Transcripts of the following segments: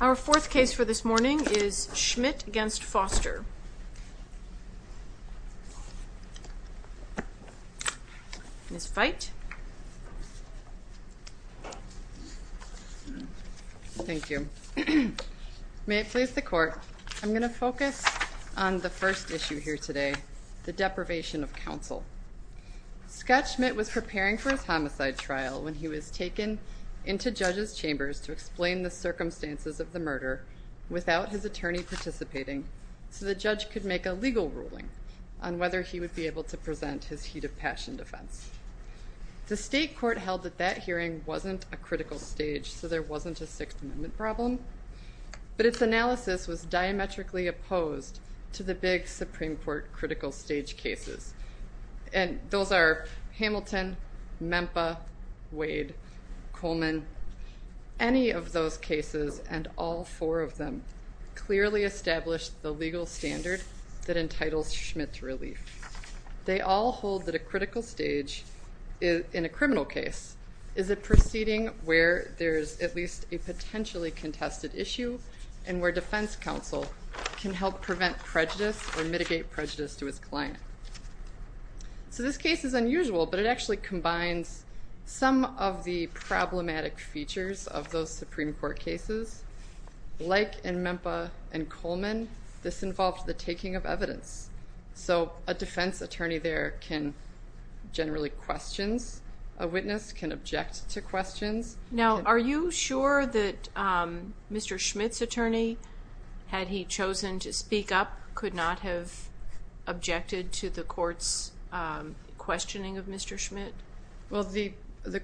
Our fourth case for this morning is Schmidt v. Foster May it please the court, I'm going to focus on the first issue here today, the deprivation of counsel. Scott Schmidt was preparing for his homicide trial when he was taken into judges' chambers to explain the circumstances of the murder without his attorney participating so the judge could make a legal ruling on whether he would be able to present his heat of passion defense. The state court held that that hearing wasn't a critical stage, so there wasn't a Sixth Amendment problem, but its analysis was diametrically opposed to the big Supreme Court critical stage cases. And those are Hamilton, Memphis, Wade, Coleman, any of those cases, and all four of them, clearly established the legal standard that entitles Schmidt to relief. They all hold that a critical stage in a criminal case is a proceeding where there's at least a potentially contested issue and where defense counsel can help prevent prejudice or mitigate prejudice to his client. So this case is unusual, but it actually combines some of the problematic features of those Supreme Court cases. Like in Memphis and Coleman, this involved the taking of evidence. So a defense attorney there can generally question a witness, can object to questions. Now, are you sure that Mr. Schmidt's attorney, had he chosen to speak up, could not have objected to the court's removal of Mr. Schmidt? Well, the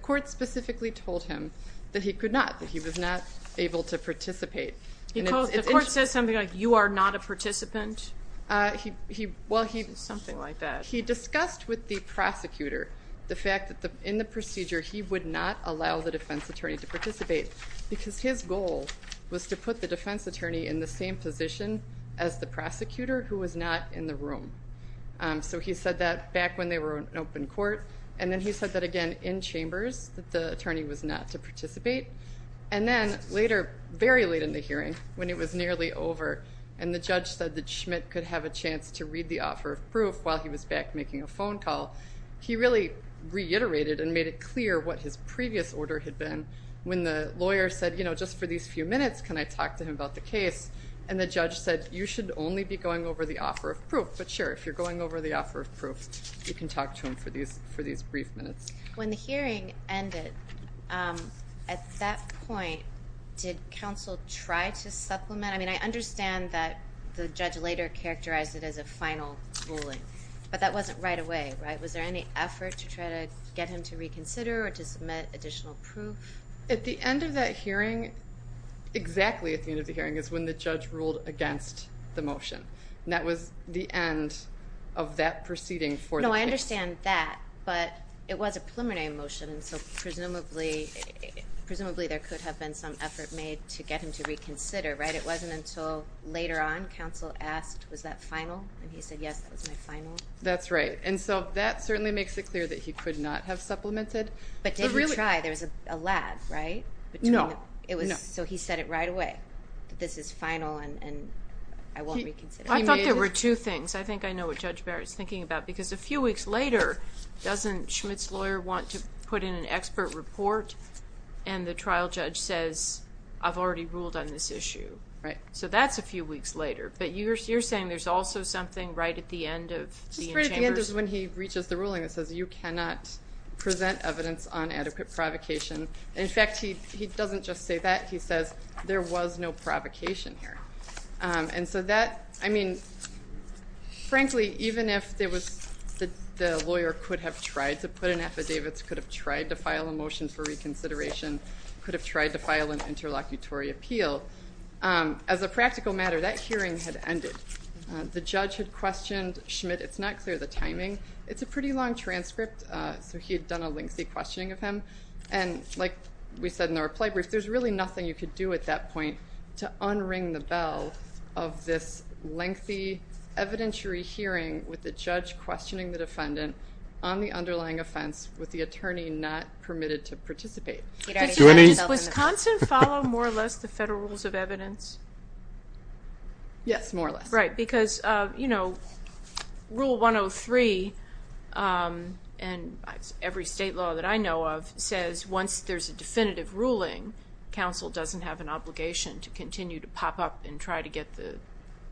court specifically told him that he could not, that he was not able to participate. The court says something like, you are not a participant? Something like that. He discussed with the prosecutor the fact that in the procedure he would not allow the defense attorney to participate because his goal was to put the defense attorney in the same position as the prosecutor who was not in the room. So he said that back when they were in open court, and then he said that again in chambers that the attorney was not to participate. And then later, very late in the hearing, when it was nearly over and the judge said that Schmidt could have a chance to read the offer of proof while he was back making a phone call, he really reiterated and made it clear what his previous order had been when the lawyer said, you know, just for these few minutes, can I talk to him about the case? And the judge said, you should only be going over the offer of proof. But sure, if you're going over the offer of proof, you can talk to him for these brief minutes. When the hearing ended, at that point, did counsel try to supplement? I mean, I understand that the judge later characterized it as a final ruling, but that wasn't right away, right? Was there any effort to try to get him to reconsider or to submit additional proof? At the end of that hearing, exactly at the end of the hearing is when the judge ruled against the motion. And that was the end of that proceeding for the case. No, I understand that, but it was a preliminary motion, and so presumably there could have been some effort made to get him to reconsider, right? It wasn't until later on, counsel asked, was that final? And he said, yes, that was my final. That's right. And so that certainly makes it clear that he could not have supplemented. But did he try? There was a lab, right? No. So he said it right away, that this is final and I won't reconsider. I thought there were two things. I think I know what Judge Barrett is thinking about, because a few weeks later, doesn't Schmitt's lawyer want to put in an expert report and the trial judge says, I've already ruled on this issue? Right. So that's a few weeks later. But you're saying there's also something right at the end of the chambers? Just right at the end is when he reaches the ruling that says you cannot present evidence on adequate provocation. In fact, he doesn't just say that. He says there was no provocation here. And so that, I mean, frankly, even if there was, the lawyer could have tried to put an affidavit, could have tried to file a motion for reconsideration, could have tried to file an interlocutory appeal. As a practical matter, that hearing had ended. The judge had questioned Schmitt. It's not clear the timing. It's a pretty long transcript. So he had done a lengthy questioning of him. And like we said in the reply brief, there's really nothing you could do at that point to unring the bell of this lengthy, evidentiary hearing with the judge questioning the defendant on the underlying offense with the attorney not permitted to participate. Does Wisconsin follow more or less the federal rules of evidence? Yes, more or less. Right. Because, you know, Rule 103, and every state law that I know of, says once there's a definitive ruling, counsel doesn't have an obligation to continue to pop up and try to get the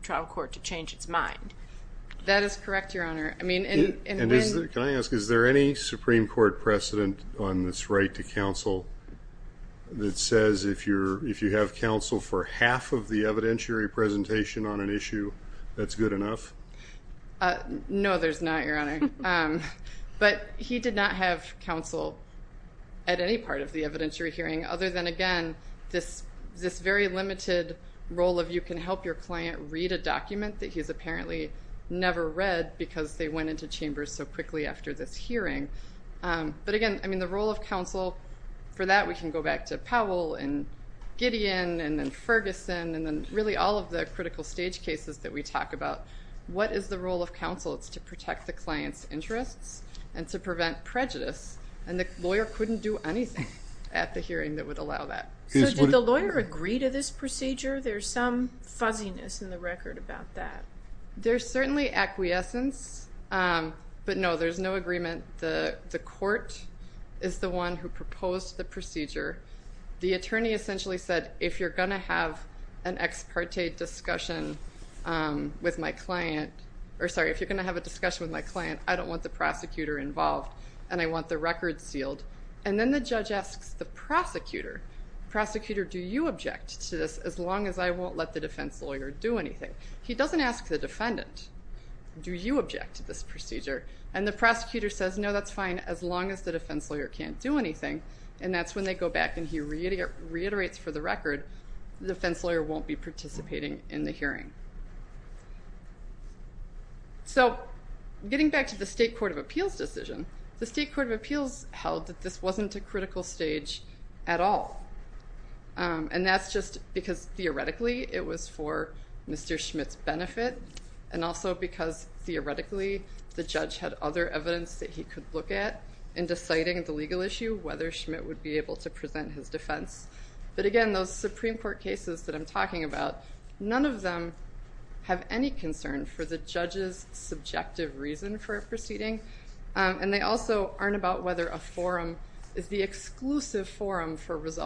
trial court to change its mind. That is correct, Your Honor. I mean... Can I ask, is there any Supreme Court precedent on this right to counsel that says if you're, if you have counsel for half of the evidentiary presentation on an issue, that's good enough? No, there's not, Your Honor. But he did not have counsel at any part of the evidentiary hearing, other than, again, this very limited role of you can help your client read a document that he's apparently never read because they went into chambers so quickly after this hearing. But again, I mean, the role of counsel for that, we can go back to Powell and Gideon and Ferguson and then really all of the critical stage cases that we talk about. What is the role of counsel? It's to protect the client's interests and to prevent prejudice, and the lawyer couldn't do anything at the hearing that would allow that. So did the lawyer agree to this procedure? There's some fuzziness in the record about that. There's certainly acquiescence, but no, there's no acquiescence. The court is the one who proposed the procedure. The attorney essentially said if you're going to have an ex parte discussion with my client, or sorry, if you're going to have a discussion with my client, I don't want the prosecutor involved and I want the record sealed. And then the judge asks the prosecutor, prosecutor, do you object to this as long as I won't let the defense lawyer do anything? He doesn't ask the defendant, do you object to this procedure? And the prosecutor says no, that's fine as long as the defense lawyer can't do anything, and that's when they go back and he reiterates for the record the defense lawyer won't be participating in the hearing. So getting back to the State Court of Appeals decision, the State Court of Appeals held that this wasn't a critical stage at all, and that's just because theoretically it was for Mr. Schmidt's benefit, and also because theoretically the judge had other evidence that he could look at in deciding the legal issue, whether Schmidt would be able to present his defense. But again, those Supreme Court cases that I'm talking about, none of them have any concern for the judge's subjective reason for a proceeding, and they also aren't about whether a forum is the exclusive forum for the case.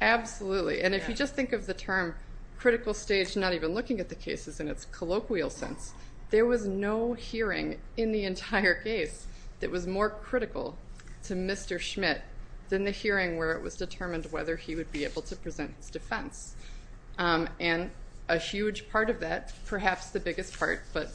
Absolutely, and if you just think of the term critical stage not even looking at the cases in its colloquial sense, there was no hearing in the entire case that was more critical to Mr. Schmidt than the hearing where it was determined whether he would be able to present his defense. And a huge part of that, perhaps the biggest part, but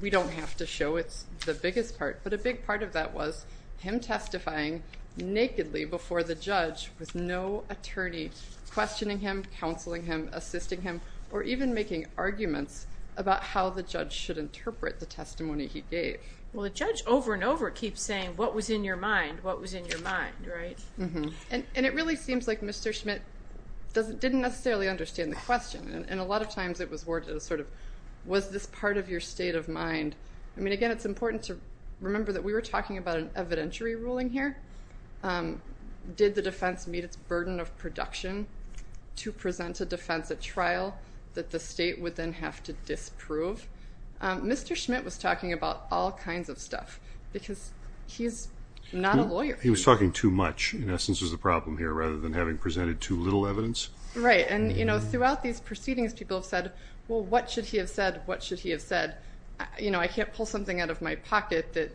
we don't have to show it's the biggest part, but a big part of that was him testifying nakedly before the judge with no attorney questioning him, counseling him, assisting him, or even making arguments about how the judge should interpret the testimony he gave. Well the judge over and over keeps saying what was in your mind, what was in your mind, right? And it really seems like Mr. Schmidt didn't necessarily understand the question, and a lot of times it was worded as sort of, was this part of your state of mind? I mean again, it's important to remember that we were talking about an evidentiary ruling here. Did the defense meet its burden of production to present a defense at trial that the state would then have to disprove? Mr. Schmidt was talking about all kinds of stuff, because he's not a lawyer. He was a judge. Right, and you know throughout these proceedings people have said, well what should he have said, what should he have said? You know I can't pull something out of my pocket that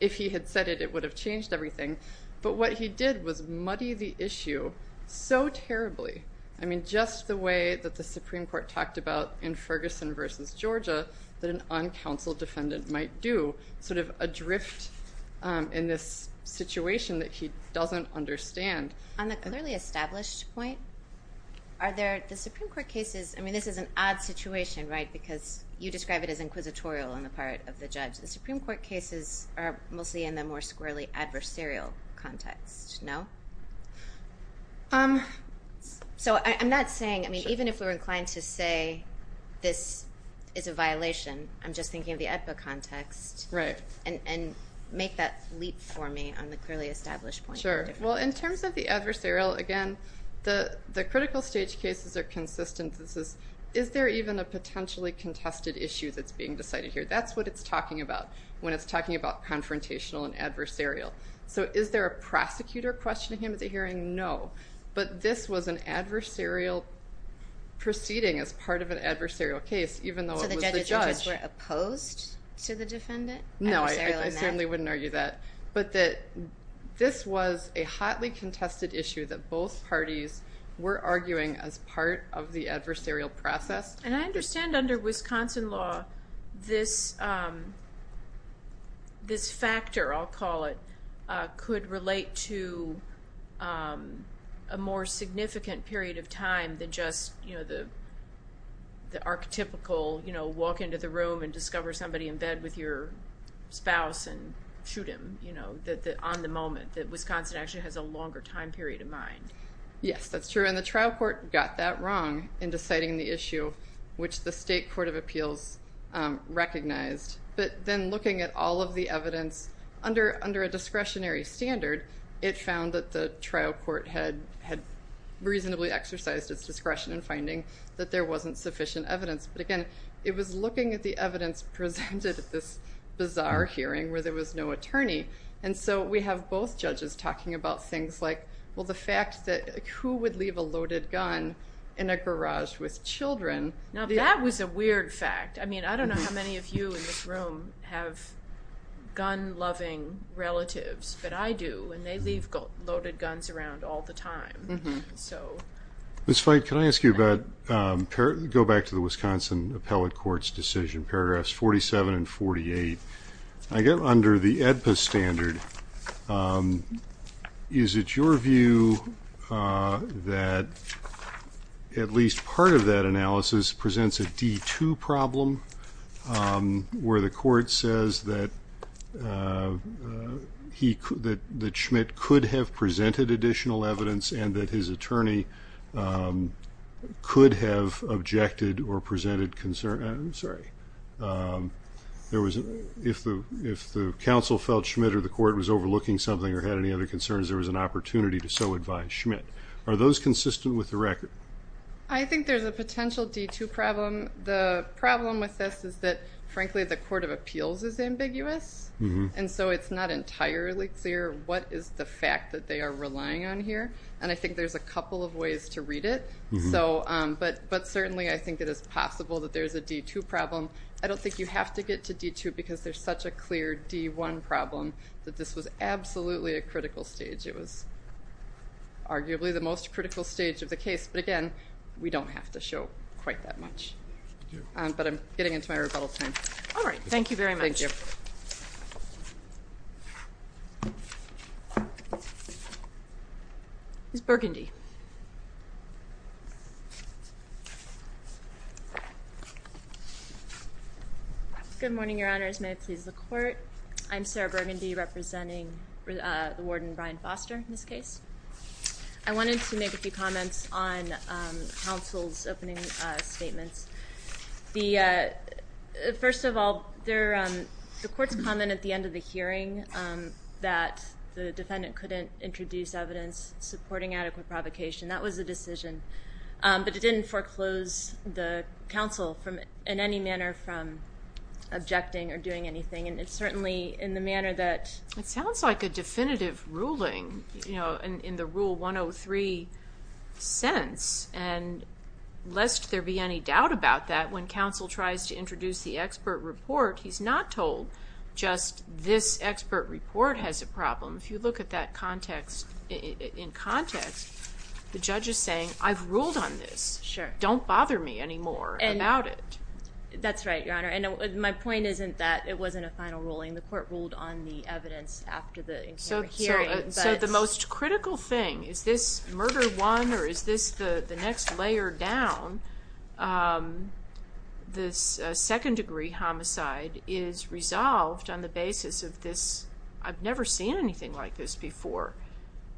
if he had said it, it would have changed everything. But what he did was muddy the issue so terribly. I mean just the way that the Supreme Court talked about in Ferguson v. Georgia that an uncounseled defendant might do, sort of adrift in this situation that he doesn't understand. On the clearly established point, are there, the Supreme Court cases, I mean this is an odd situation, right, because you describe it as inquisitorial on the part of the judge. The Supreme Court cases are mostly in the more squarely adversarial context, no? So I'm not saying, I mean even if we're inclined to say this is a violation, I'm just thinking of the EDPA context. Right. And make that leap for me on the clearly established point. Sure, well in terms of the adversarial, again, the critical stage cases are consistent. This is, is there even a potentially contested issue that's being decided here? That's what it's talking about when it's talking about confrontational and adversarial. So is there a prosecutor questioning him at the hearing? No, but this was an adversarial proceeding as part of an adversarial case, even though it was the judge. So the judges and judges were opposed to the defendant? No, I certainly wouldn't argue that, but that this was a hotly contested issue that both parties were arguing as part of the adversarial process. And I understand under Wisconsin law this this factor, I'll call it, could relate to a more significant period of time than just, you know, the the archetypical, you know, walk into the room and discover somebody in bed with your spouse and shoot him, you know, on the moment. That Wisconsin actually has a longer time period in mind. Yes, that's true. And the trial court got that wrong in deciding the issue, which the State Court of Appeals recognized. But then looking at all of the evidence under, under a discretionary standard, it found that the trial court had reasonably exercised its discretion in finding that there wasn't sufficient evidence. But again, it was looking at the evidence presented at this bizarre hearing where there was no attorney. And so we have both judges talking about things like, well, the fact that who would leave a loaded gun in a garage with children. Now, that was a weird fact. I mean, I don't know how many of you in this room have gun-loving relatives, but I do, and they leave loaded guns around all the time. So. Ms. Flight, can I ask you about, go back to the Wisconsin Appellate Court's decision, paragraphs 47 and 48. I get under the AEDPA standard. Is it your view that at least part of that analysis presents a D2 problem where the court says that he could, that Schmidt could have presented additional evidence and that his attorney could have objected or presented concern? I'm sorry. There was, if the, if the counsel felt Schmidt or the court was overlooking something or had any other concerns, there was an opportunity to so advise Schmidt. Are those consistent with the record? I think there's a potential D2 problem. The problem with this is that frankly the Court of Appeals is ambiguous. Mm-hmm. And so it's not entirely clear what is the fact that they are relying on here, and I think there's a couple of ways to read it. So, but, but certainly I think it is possible that there's a D2 problem. I don't think you have to get to D2 because there's such a clear D1 problem that this was absolutely a critical stage. It was arguably the most critical stage of the case, but again, we don't have to show quite that much. But I'm getting into my rebuttal time. All right. Thank you very much. Ms. Burgundy. Good morning, Your Honors. May it please the Court. I'm Sarah Burgundy representing the Warden Brian Foster in this case. I wanted to make a few comments on counsel's opening statements. The, first of all, there, the court's comment at the end of the hearing that the defendant couldn't introduce evidence supporting adequate provocation. That was the decision. But it didn't foreclose the counsel from, in any manner, from objecting or doing anything, and it's certainly in the manner that... It sounds like a definitive ruling, you know, in the Rule 103 sentence, and lest there be any doubt about that, when counsel tries to introduce the expert report, he's not told just, this expert report has a problem. If you look at that context, in context, the judge is saying, I've ruled on this. Sure. Don't bother me anymore about it. That's right, Your Honor. And my point isn't that it wasn't a final ruling. The court ruled on the evidence after the hearing. So the most critical thing, is this murder one, or is this the the next layer down? This second-degree homicide is resolved on the basis of this, I've never seen anything like this before,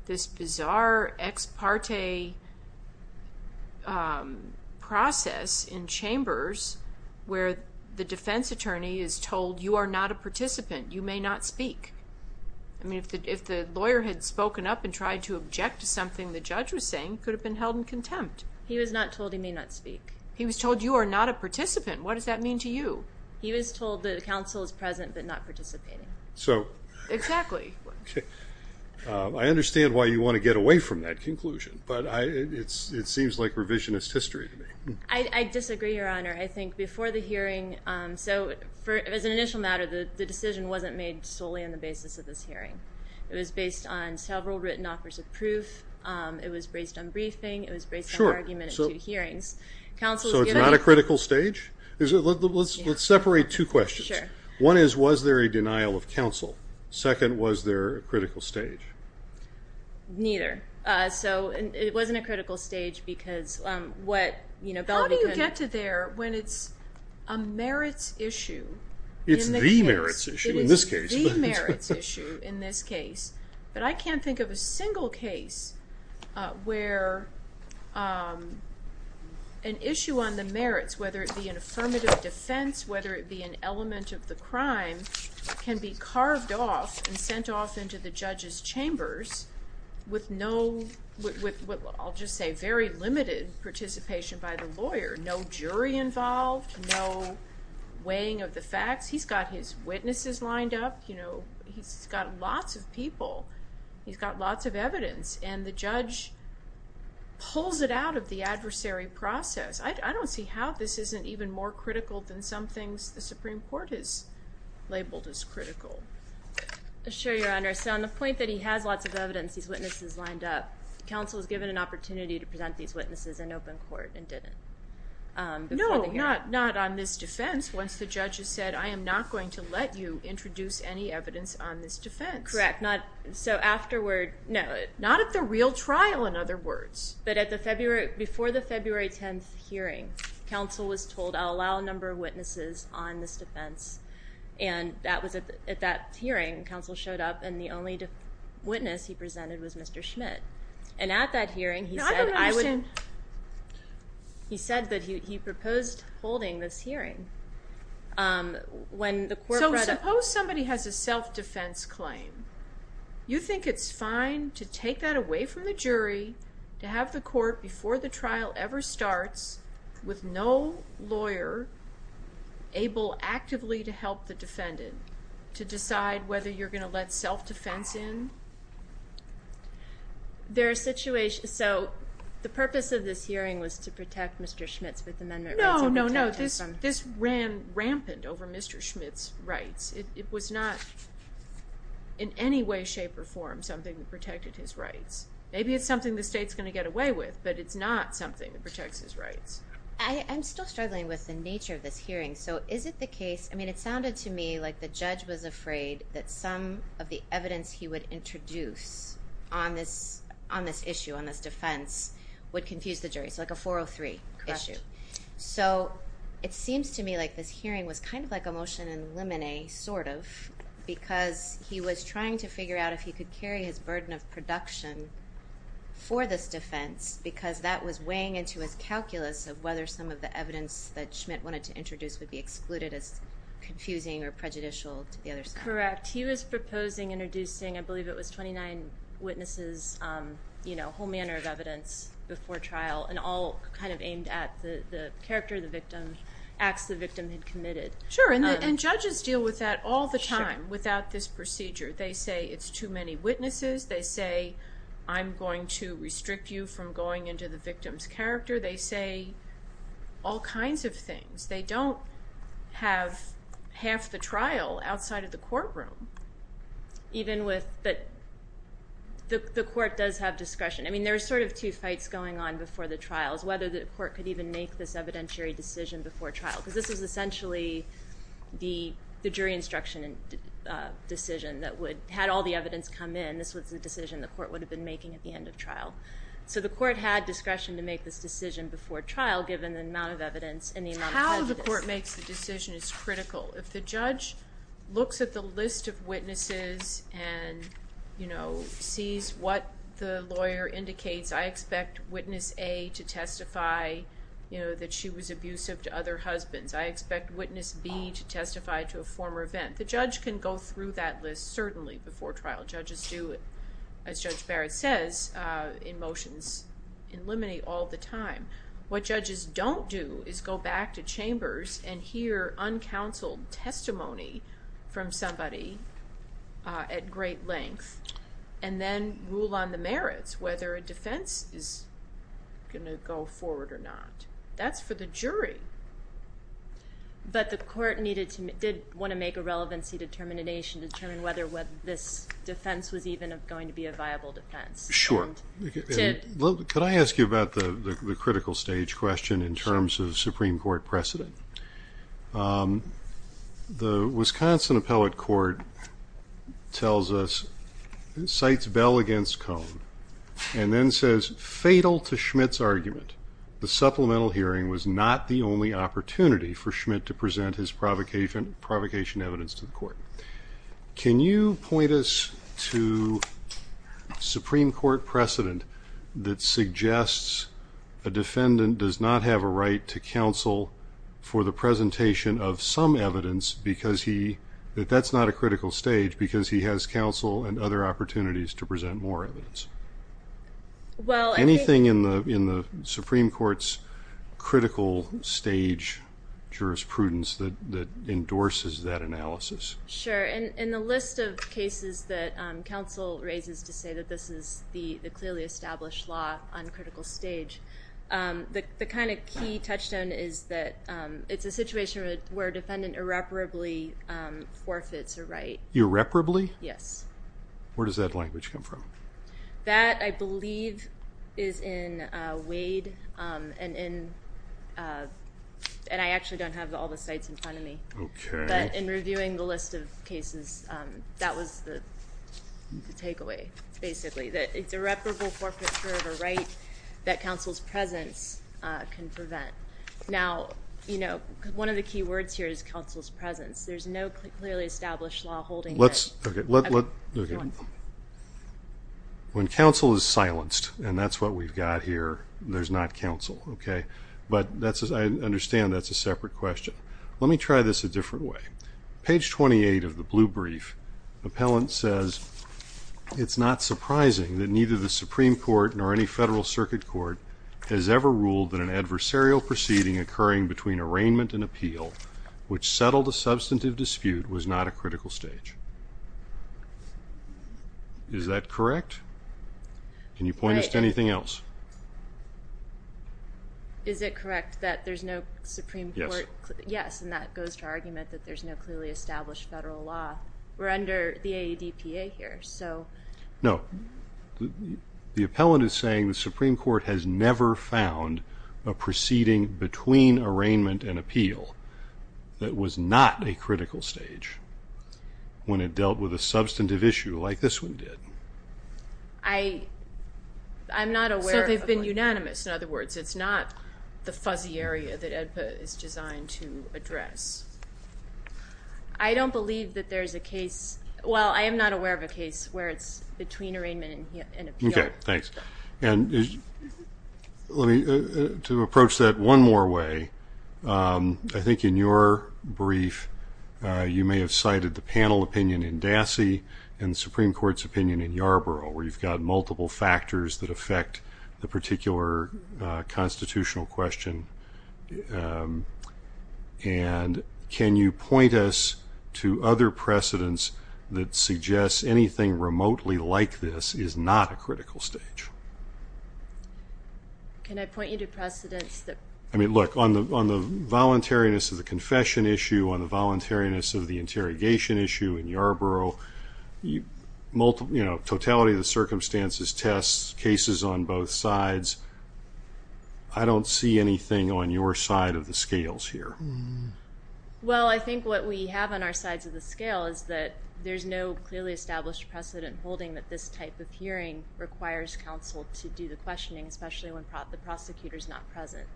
this bizarre ex parte process in chambers where the defense attorney is told, you are not a participant. You may not speak. I mean, if the lawyer had spoken up and tried to object to something the judge was saying, could have been held in contempt. He was not told he may not speak. He was told you are not a participant. What does that mean to you? He was told that the counsel is present, but not participating. So, exactly. I understand why you want to get away from that conclusion, but it seems like revisionist history to me. I disagree, Your Honor. I think before the hearing, so as an initial matter, the decision wasn't made solely on the basis of this hearing. It was based on briefing. It was based on argument at two hearings. So it's not a critical stage? Let's separate two questions. One is, was there a denial of counsel? Second, was there a critical stage? Neither. So, it wasn't a critical stage because what, you know, how do you get to there when it's a merits issue? It's the merits issue in this case. It's the merits issue in this case, but I can't think of a single case where an issue on the merits, whether it be an affirmative defense, whether it be an element of the crime, can be carved off and sent off into the judge's chambers with no, with, I'll just say, very limited participation by the lawyer. No jury involved, no briefing of the facts. He's got his witnesses lined up, you know, he's got lots of people, he's got lots of evidence, and the judge pulls it out of the adversary process. I don't see how this isn't even more critical than some things the Supreme Court has labeled as critical. Sure, Your Honor. So on the point that he has lots of evidence, these witnesses lined up, counsel was given an opportunity to present these witnesses in open court and didn't. No, not on this defense. Once the judge has said, I am not going to let you introduce any evidence on this defense. Correct, not, so afterward. No, not at the real trial, in other words. But at the February, before the February 10th hearing, counsel was told, I'll allow a number of witnesses on this defense. And that was at that hearing, counsel showed up and the only witness he presented was Mr. Schmidt. And at that hearing, he said, I would. He said that he proposed holding this hearing. When the court. So suppose somebody has a self-defense claim. You think it's fine to take that away from the jury, to have the court, before the trial ever starts, with no lawyer able actively to help the defendant, to decide whether you're going to let self-defense in? There are situations, so the purpose of this hearing was to protect Mr. Schmidt's Fifth Amendment rights. No, no, no. This ran rampant over Mr. Schmidt's rights. It was not in any way, shape, or form, something that protected his rights. Maybe it's something the state's going to get away with, but it's not something that protects his rights. I'm still struggling with the nature of this hearing. So is it the case, I mean, it sounded to me like the judge was afraid that some of the evidence he would introduce on this, on this issue, on this defense, would confuse the jury. It's like a 403 issue. So it seems to me like this hearing was kind of like a motion and lemonade, sort of, because he was trying to figure out if he could carry his burden of production for this defense, because that was weighing into his calculus of whether some of the evidence that Schmidt wanted to introduce would be excluded as confusing or prejudicial to the other side. That's correct. He was proposing introducing, I believe it was 29 witnesses, you know, whole manner of evidence before trial, and all kind of aimed at the character of the victim, acts the victim had committed. Sure, and judges deal with that all the time without this procedure. They say it's too many witnesses. They say, I'm going to restrict you from going into the victim's character. They say all kinds of things. They don't have half the trial outside of the courtroom. Even with, the court does have discretion. I mean, there were sort of two fights going on before the trials, whether the court could even make this evidentiary decision before trial, because this was essentially the jury instruction decision that would, had all the evidence come in, this was the decision the court would have been making at the end of trial. So the court had discretion to make this decision before trial, given the amount of evidence and the amount of prejudice. The way the court makes the decision is critical. If the judge looks at the list of witnesses and, you know, sees what the lawyer indicates, I expect witness A to testify, you know, that she was abusive to other husbands. I expect witness B to testify to a former event. The judge can go through that list, certainly, before trial. Judges do, as Judge Barrett says, in motions in limine all the time. What judges don't do is go back to chambers and hear uncounseled testimony from somebody at great length, and then rule on the merits, whether a defense is going to go forward or not. That's for the jury. But the court did want to make a relevancy determination to determine whether this defense was even going to be a viable defense. Sure. Could I ask you about the critical stage question in terms of Supreme Court precedent? The Wisconsin Appellate Court tells us, cites Bell against Cone, and then says, fatal to Schmidt's argument, the supplemental hearing was not the only opportunity for Schmidt to present his provocation evidence to the court. Can you point us to Supreme Court precedent that suggests a defendant does not have a right to counsel for the presentation of some evidence because he, that that's not a critical stage, because he has counsel and other opportunities to present more evidence? Anything in the Supreme Court's critical stage jurisprudence that endorses that analysis? Sure. In the list of cases that counsel raises to say that this is the clearly established law on critical stage, the kind of key touchstone is that it's a situation where a defendant irreparably forfeits a right. Irreparably? Yes. Where does that language come from? That, I believe, is in Wade, and in, and I actually don't have all the sites in front of me. Okay. But in reviewing the list of cases, that was the takeaway, basically, that it's irreparable forfeiture of a right that counsel's presence can prevent. Now, you know, one of the key words here is counsel's presence. There's no clearly established law holding that. When counsel is silenced, and that's what we've got here, there's not counsel, okay? But that's, I understand that's a separate question. Let me try this a different way. Page 28 of the blue brief, appellant says, it's not surprising that neither the Supreme Court nor any Federal Circuit Court has ever ruled that an adversarial proceeding occurring between arraignment and appeal, which settled a substantive dispute, was not a critical stage. Is that correct? Can you point us to anything else? Is it correct that there's no Supreme Court? Yes. Yes, and that goes to argument that there's no clearly established federal law. We're under the AEDPA here, so. No. The appellant is saying the Supreme Court has never found a proceeding between arraignment and appeal that was not a critical stage when it dealt with a substantive issue like this one did. I, I'm not aware. No, they've been unanimous. In other words, it's not the fuzzy area that AEDPA is designed to address. I don't believe that there's a case, well, I am not aware of a case where it's between arraignment and appeal. Okay, thanks. And let me, to approach that one more way, I think in your brief, you may have cited the panel opinion in Dassey and the Supreme Court's opinion in Yarborough, where you've got multiple factors that affect the particular constitutional question. And can you point us to other precedents that suggest anything remotely like this is not a critical stage? Can I point you to precedents that? I mean, look, on the, on the voluntariness of the confession issue, on the voluntariness of the interrogation issue in Yarborough, you know, totality of the circumstances, tests, cases on both sides. I don't see anything on your side of the scales here. Well, I think what we have on our sides of the scale is that there's no clearly established precedent holding that this type of hearing requires counsel to do the questioning, especially when the prosecutor's not present.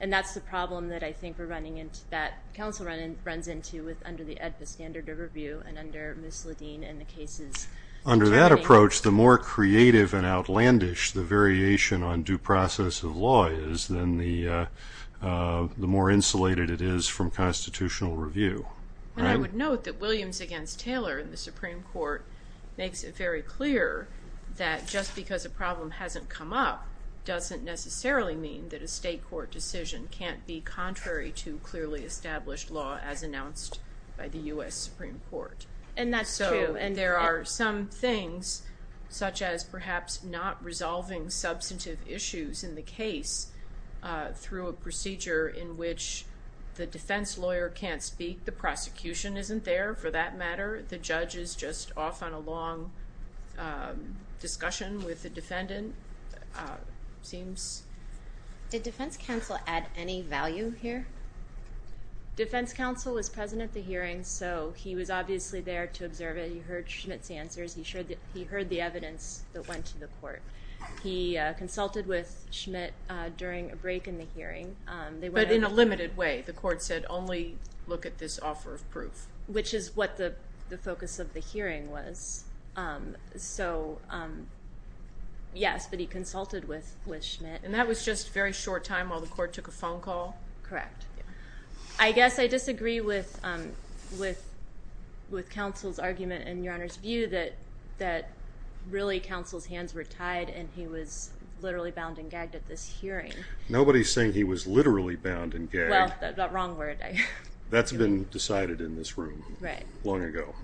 And that's the problem that I think we're running into, that counsel runs into under the ADFA standard of review and under Ms. Ledeen and the cases. Under that approach, the more creative and outlandish the variation on due process of law is, then the more insulated it is from constitutional review. And I would note that Williams against Taylor in the Supreme Court makes it very clear that just because a problem hasn't come up, doesn't necessarily mean that a state court decision can't be contrary to clearly established law as announced by the U.S. Supreme Court. And that's true. So, and there are some things such as perhaps not resolving substantive issues in the case through a procedure in which the defense lawyer can't speak, the prosecution isn't there for that matter, the judge is just off on a long discussion with the defendant. It seems. Did defense counsel add any value here? Defense counsel was present at the hearing, so he was obviously there to observe it. He heard Schmidt's answers. He heard the evidence that went to the court. He consulted with Schmidt during a break in the hearing. But in a limited way. The court said, only look at this offer of proof. Which is what the focus of the hearing was. So, yes, but he consulted with Schmidt. And that was just a very short time while the court took a phone call? Correct. I guess I disagree with counsel's argument and your Honor's view that really counsel's hands were tied and he was literally bound and gagged at this hearing. Nobody's saying he was literally bound and gagged. Well, that's the wrong word. That's been decided in this room. Right. Long ago.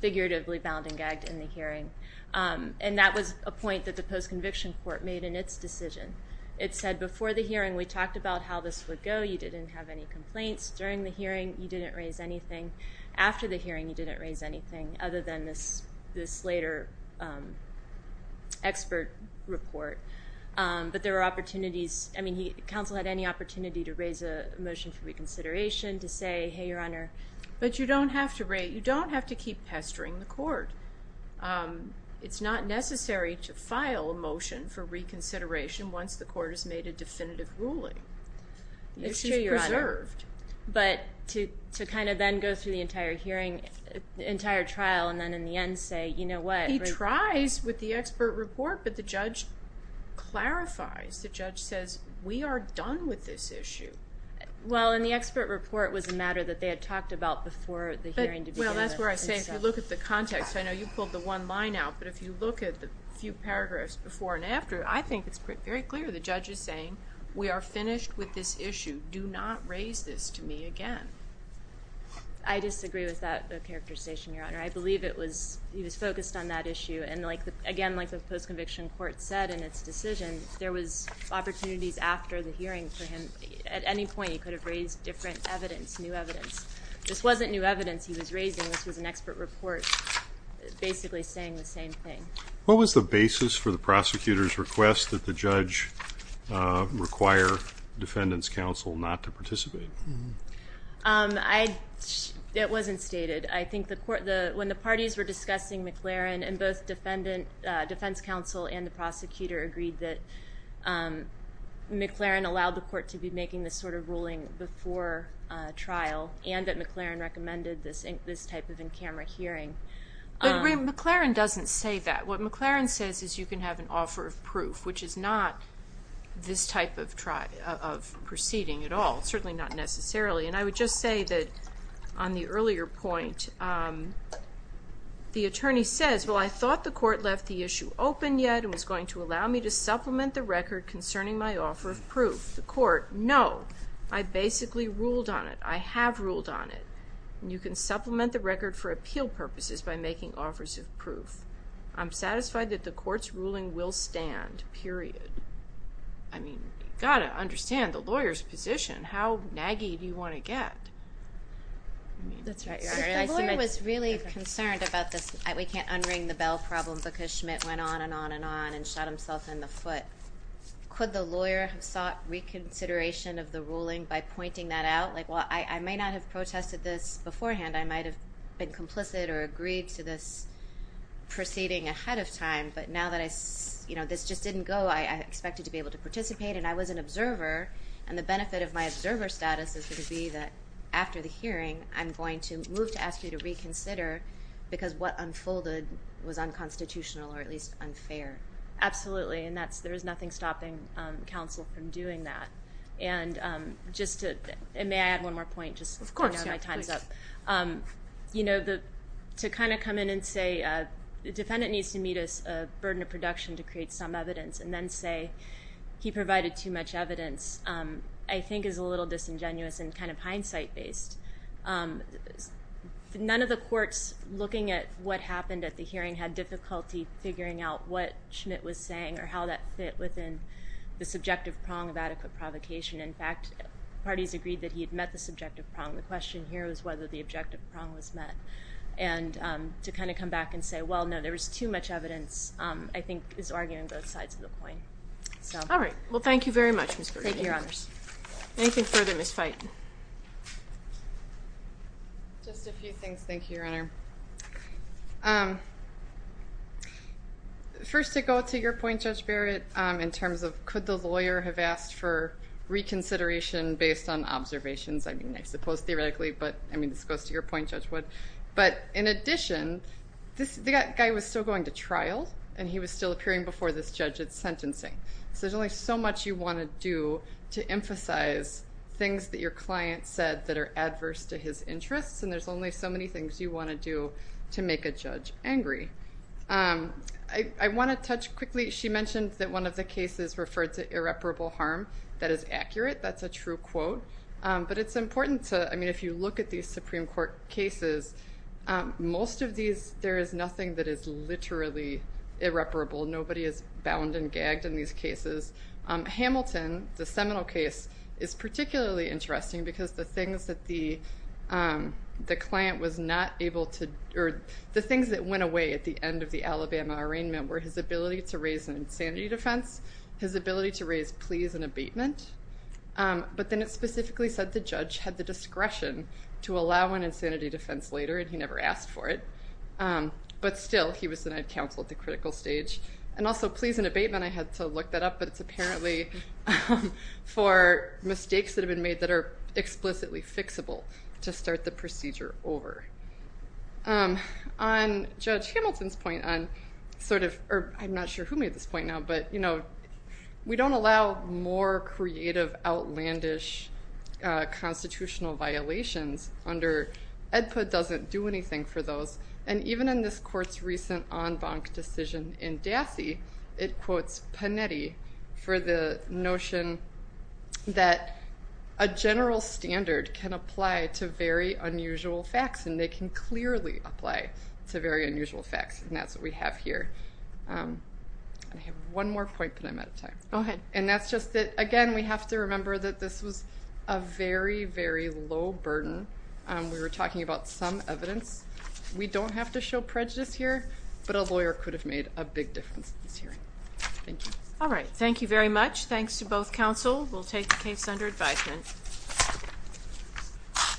Figuratively bound and gagged in the hearing. And that was a point that the post-conviction court made in its decision. It said before the hearing, we talked about how this would go. You didn't have any complaints. During the hearing, you didn't raise anything. After the hearing, you didn't raise anything. Other than this later expert report. But there were opportunities. I mean, counsel had any opportunity to raise a motion for reconsideration. To say, hey, your Honor. But you don't have to keep pestering the court. It's not necessary to file a motion for reconsideration once the court has made a definitive ruling. It's true, your Honor. It's preserved. But to kind of then go through the entire hearing, the entire trial, and then in the end say, you know what. He tries with the expert report, but the judge clarifies. The judge says, we are done with this issue. Well, and the expert report was a matter that they had talked about before the hearing began. Well, that's where I say, if you look at the context, I know you pulled the one line out. But if you look at the few paragraphs before and after, I think it's very clear. The judge is saying, we are finished with this issue. Do not raise this to me again. I disagree with that characterization, your Honor. I believe he was focused on that issue. And again, like the post-conviction court said in its decision, there was opportunities after the hearing for him. At any point, he could have raised different evidence, new evidence. This wasn't new evidence he was raising. This was an expert report basically saying the same thing. What was the basis for the prosecutor's request that the judge require defendants counsel not to participate? It wasn't stated. I think when the parties were discussing McLaren and both defense counsel and the prosecutor agreed that McLaren allowed the court to be making this sort of ruling before trial and that McLaren recommended this type of in-camera hearing. But McLaren doesn't say that. What McLaren says is you can have an offer of proof, which is not this type of proceeding at all. Certainly not necessarily. And I would just say that on the earlier point, the attorney says, Well, I thought the court left the issue open yet and was going to allow me to supplement the record concerning my offer of proof. The court, no. I basically ruled on it. I have ruled on it. And you can supplement the record for appeal purposes by making offers of proof. I'm satisfied that the court's ruling will stand, period. I mean, you've got to understand the lawyer's position. That's right, Your Honor. The lawyer was really concerned about this we-can't-unring-the-bell problem because Schmidt went on and on and on and shot himself in the foot. Could the lawyer have sought reconsideration of the ruling by pointing that out? Like, well, I may not have protested this beforehand. I might have been complicit or agreed to this proceeding ahead of time. But now that this just didn't go, I expected to be able to participate. And I was an observer. And the benefit of my observer status is going to be that after the hearing, I'm going to move to ask you to reconsider because what unfolded was unconstitutional or at least unfair. Absolutely. And there is nothing stopping counsel from doing that. And may I add one more point? Of course. My time is up. You know, to kind of come in and say, the defendant needs to meet a burden of production to create some evidence and then say he provided too much evidence, I think is a little disingenuous and kind of hindsight-based. None of the courts looking at what happened at the hearing had difficulty figuring out what Schmidt was saying or how that fit within the subjective prong of adequate provocation. In fact, parties agreed that he had met the subjective prong. The question here was whether the objective prong was met. And to kind of come back and say, well, no, there was too much evidence, I think is arguing both sides of the point. All right. Well, thank you very much, Ms. Grady. Thank you, Your Honors. Anything further, Ms. Feighton? Just a few things. Thank you, Your Honor. First, to go to your point, Judge Barrett, in terms of could the lawyer have asked for reconsideration based on observations? I mean, I suppose theoretically, but I mean, this goes to your point, Judge Wood. But in addition, this guy was still going to trial and he was still appearing before this judge at sentencing. So there's only so much you want to do to emphasize things that your client said that are adverse to his interests. And there's only so many things you want to do to make a judge angry. I want to touch quickly. She mentioned that one of the cases referred to irreparable harm. That is accurate. That's a true quote. But it's important to, I mean, if you look at these Supreme Court cases, most of these, there is nothing that is literally irreparable. Nobody is bound and gagged in these cases. Hamilton, the Seminole case, is particularly interesting because the things that the client was not able to, or the things that went away at the end of the Alabama arraignment were his ability to raise an insanity defense, his ability to raise pleas and abatement. But then it specifically said the judge had the discretion to allow an insanity defense later and he never asked for it. But still, he was denied counsel at the critical stage. And also pleas and abatement, I had to look that up, but it's apparently for mistakes that have been made that are explicitly fixable to start the procedure over. On Judge Hamilton's point on sort of, or I'm not sure who made this point now, but we don't allow more creative, outlandish constitutional violations under EDPA doesn't do anything for those. And even in this court's recent en banc decision in Dassey, it quotes Panetti for the notion that a general standard can apply to very unusual facts, and they can clearly apply to very unusual facts, and that's what we have here. I have one more point, but I'm out of time. Go ahead. And that's just that, again, we have to remember that this was a very, very low burden. We were talking about some evidence. We don't have to show prejudice here, but a lawyer could have made a big difference in this hearing. Thank you. All right, thank you very much. Thanks to both counsel. We'll take the case under advisement.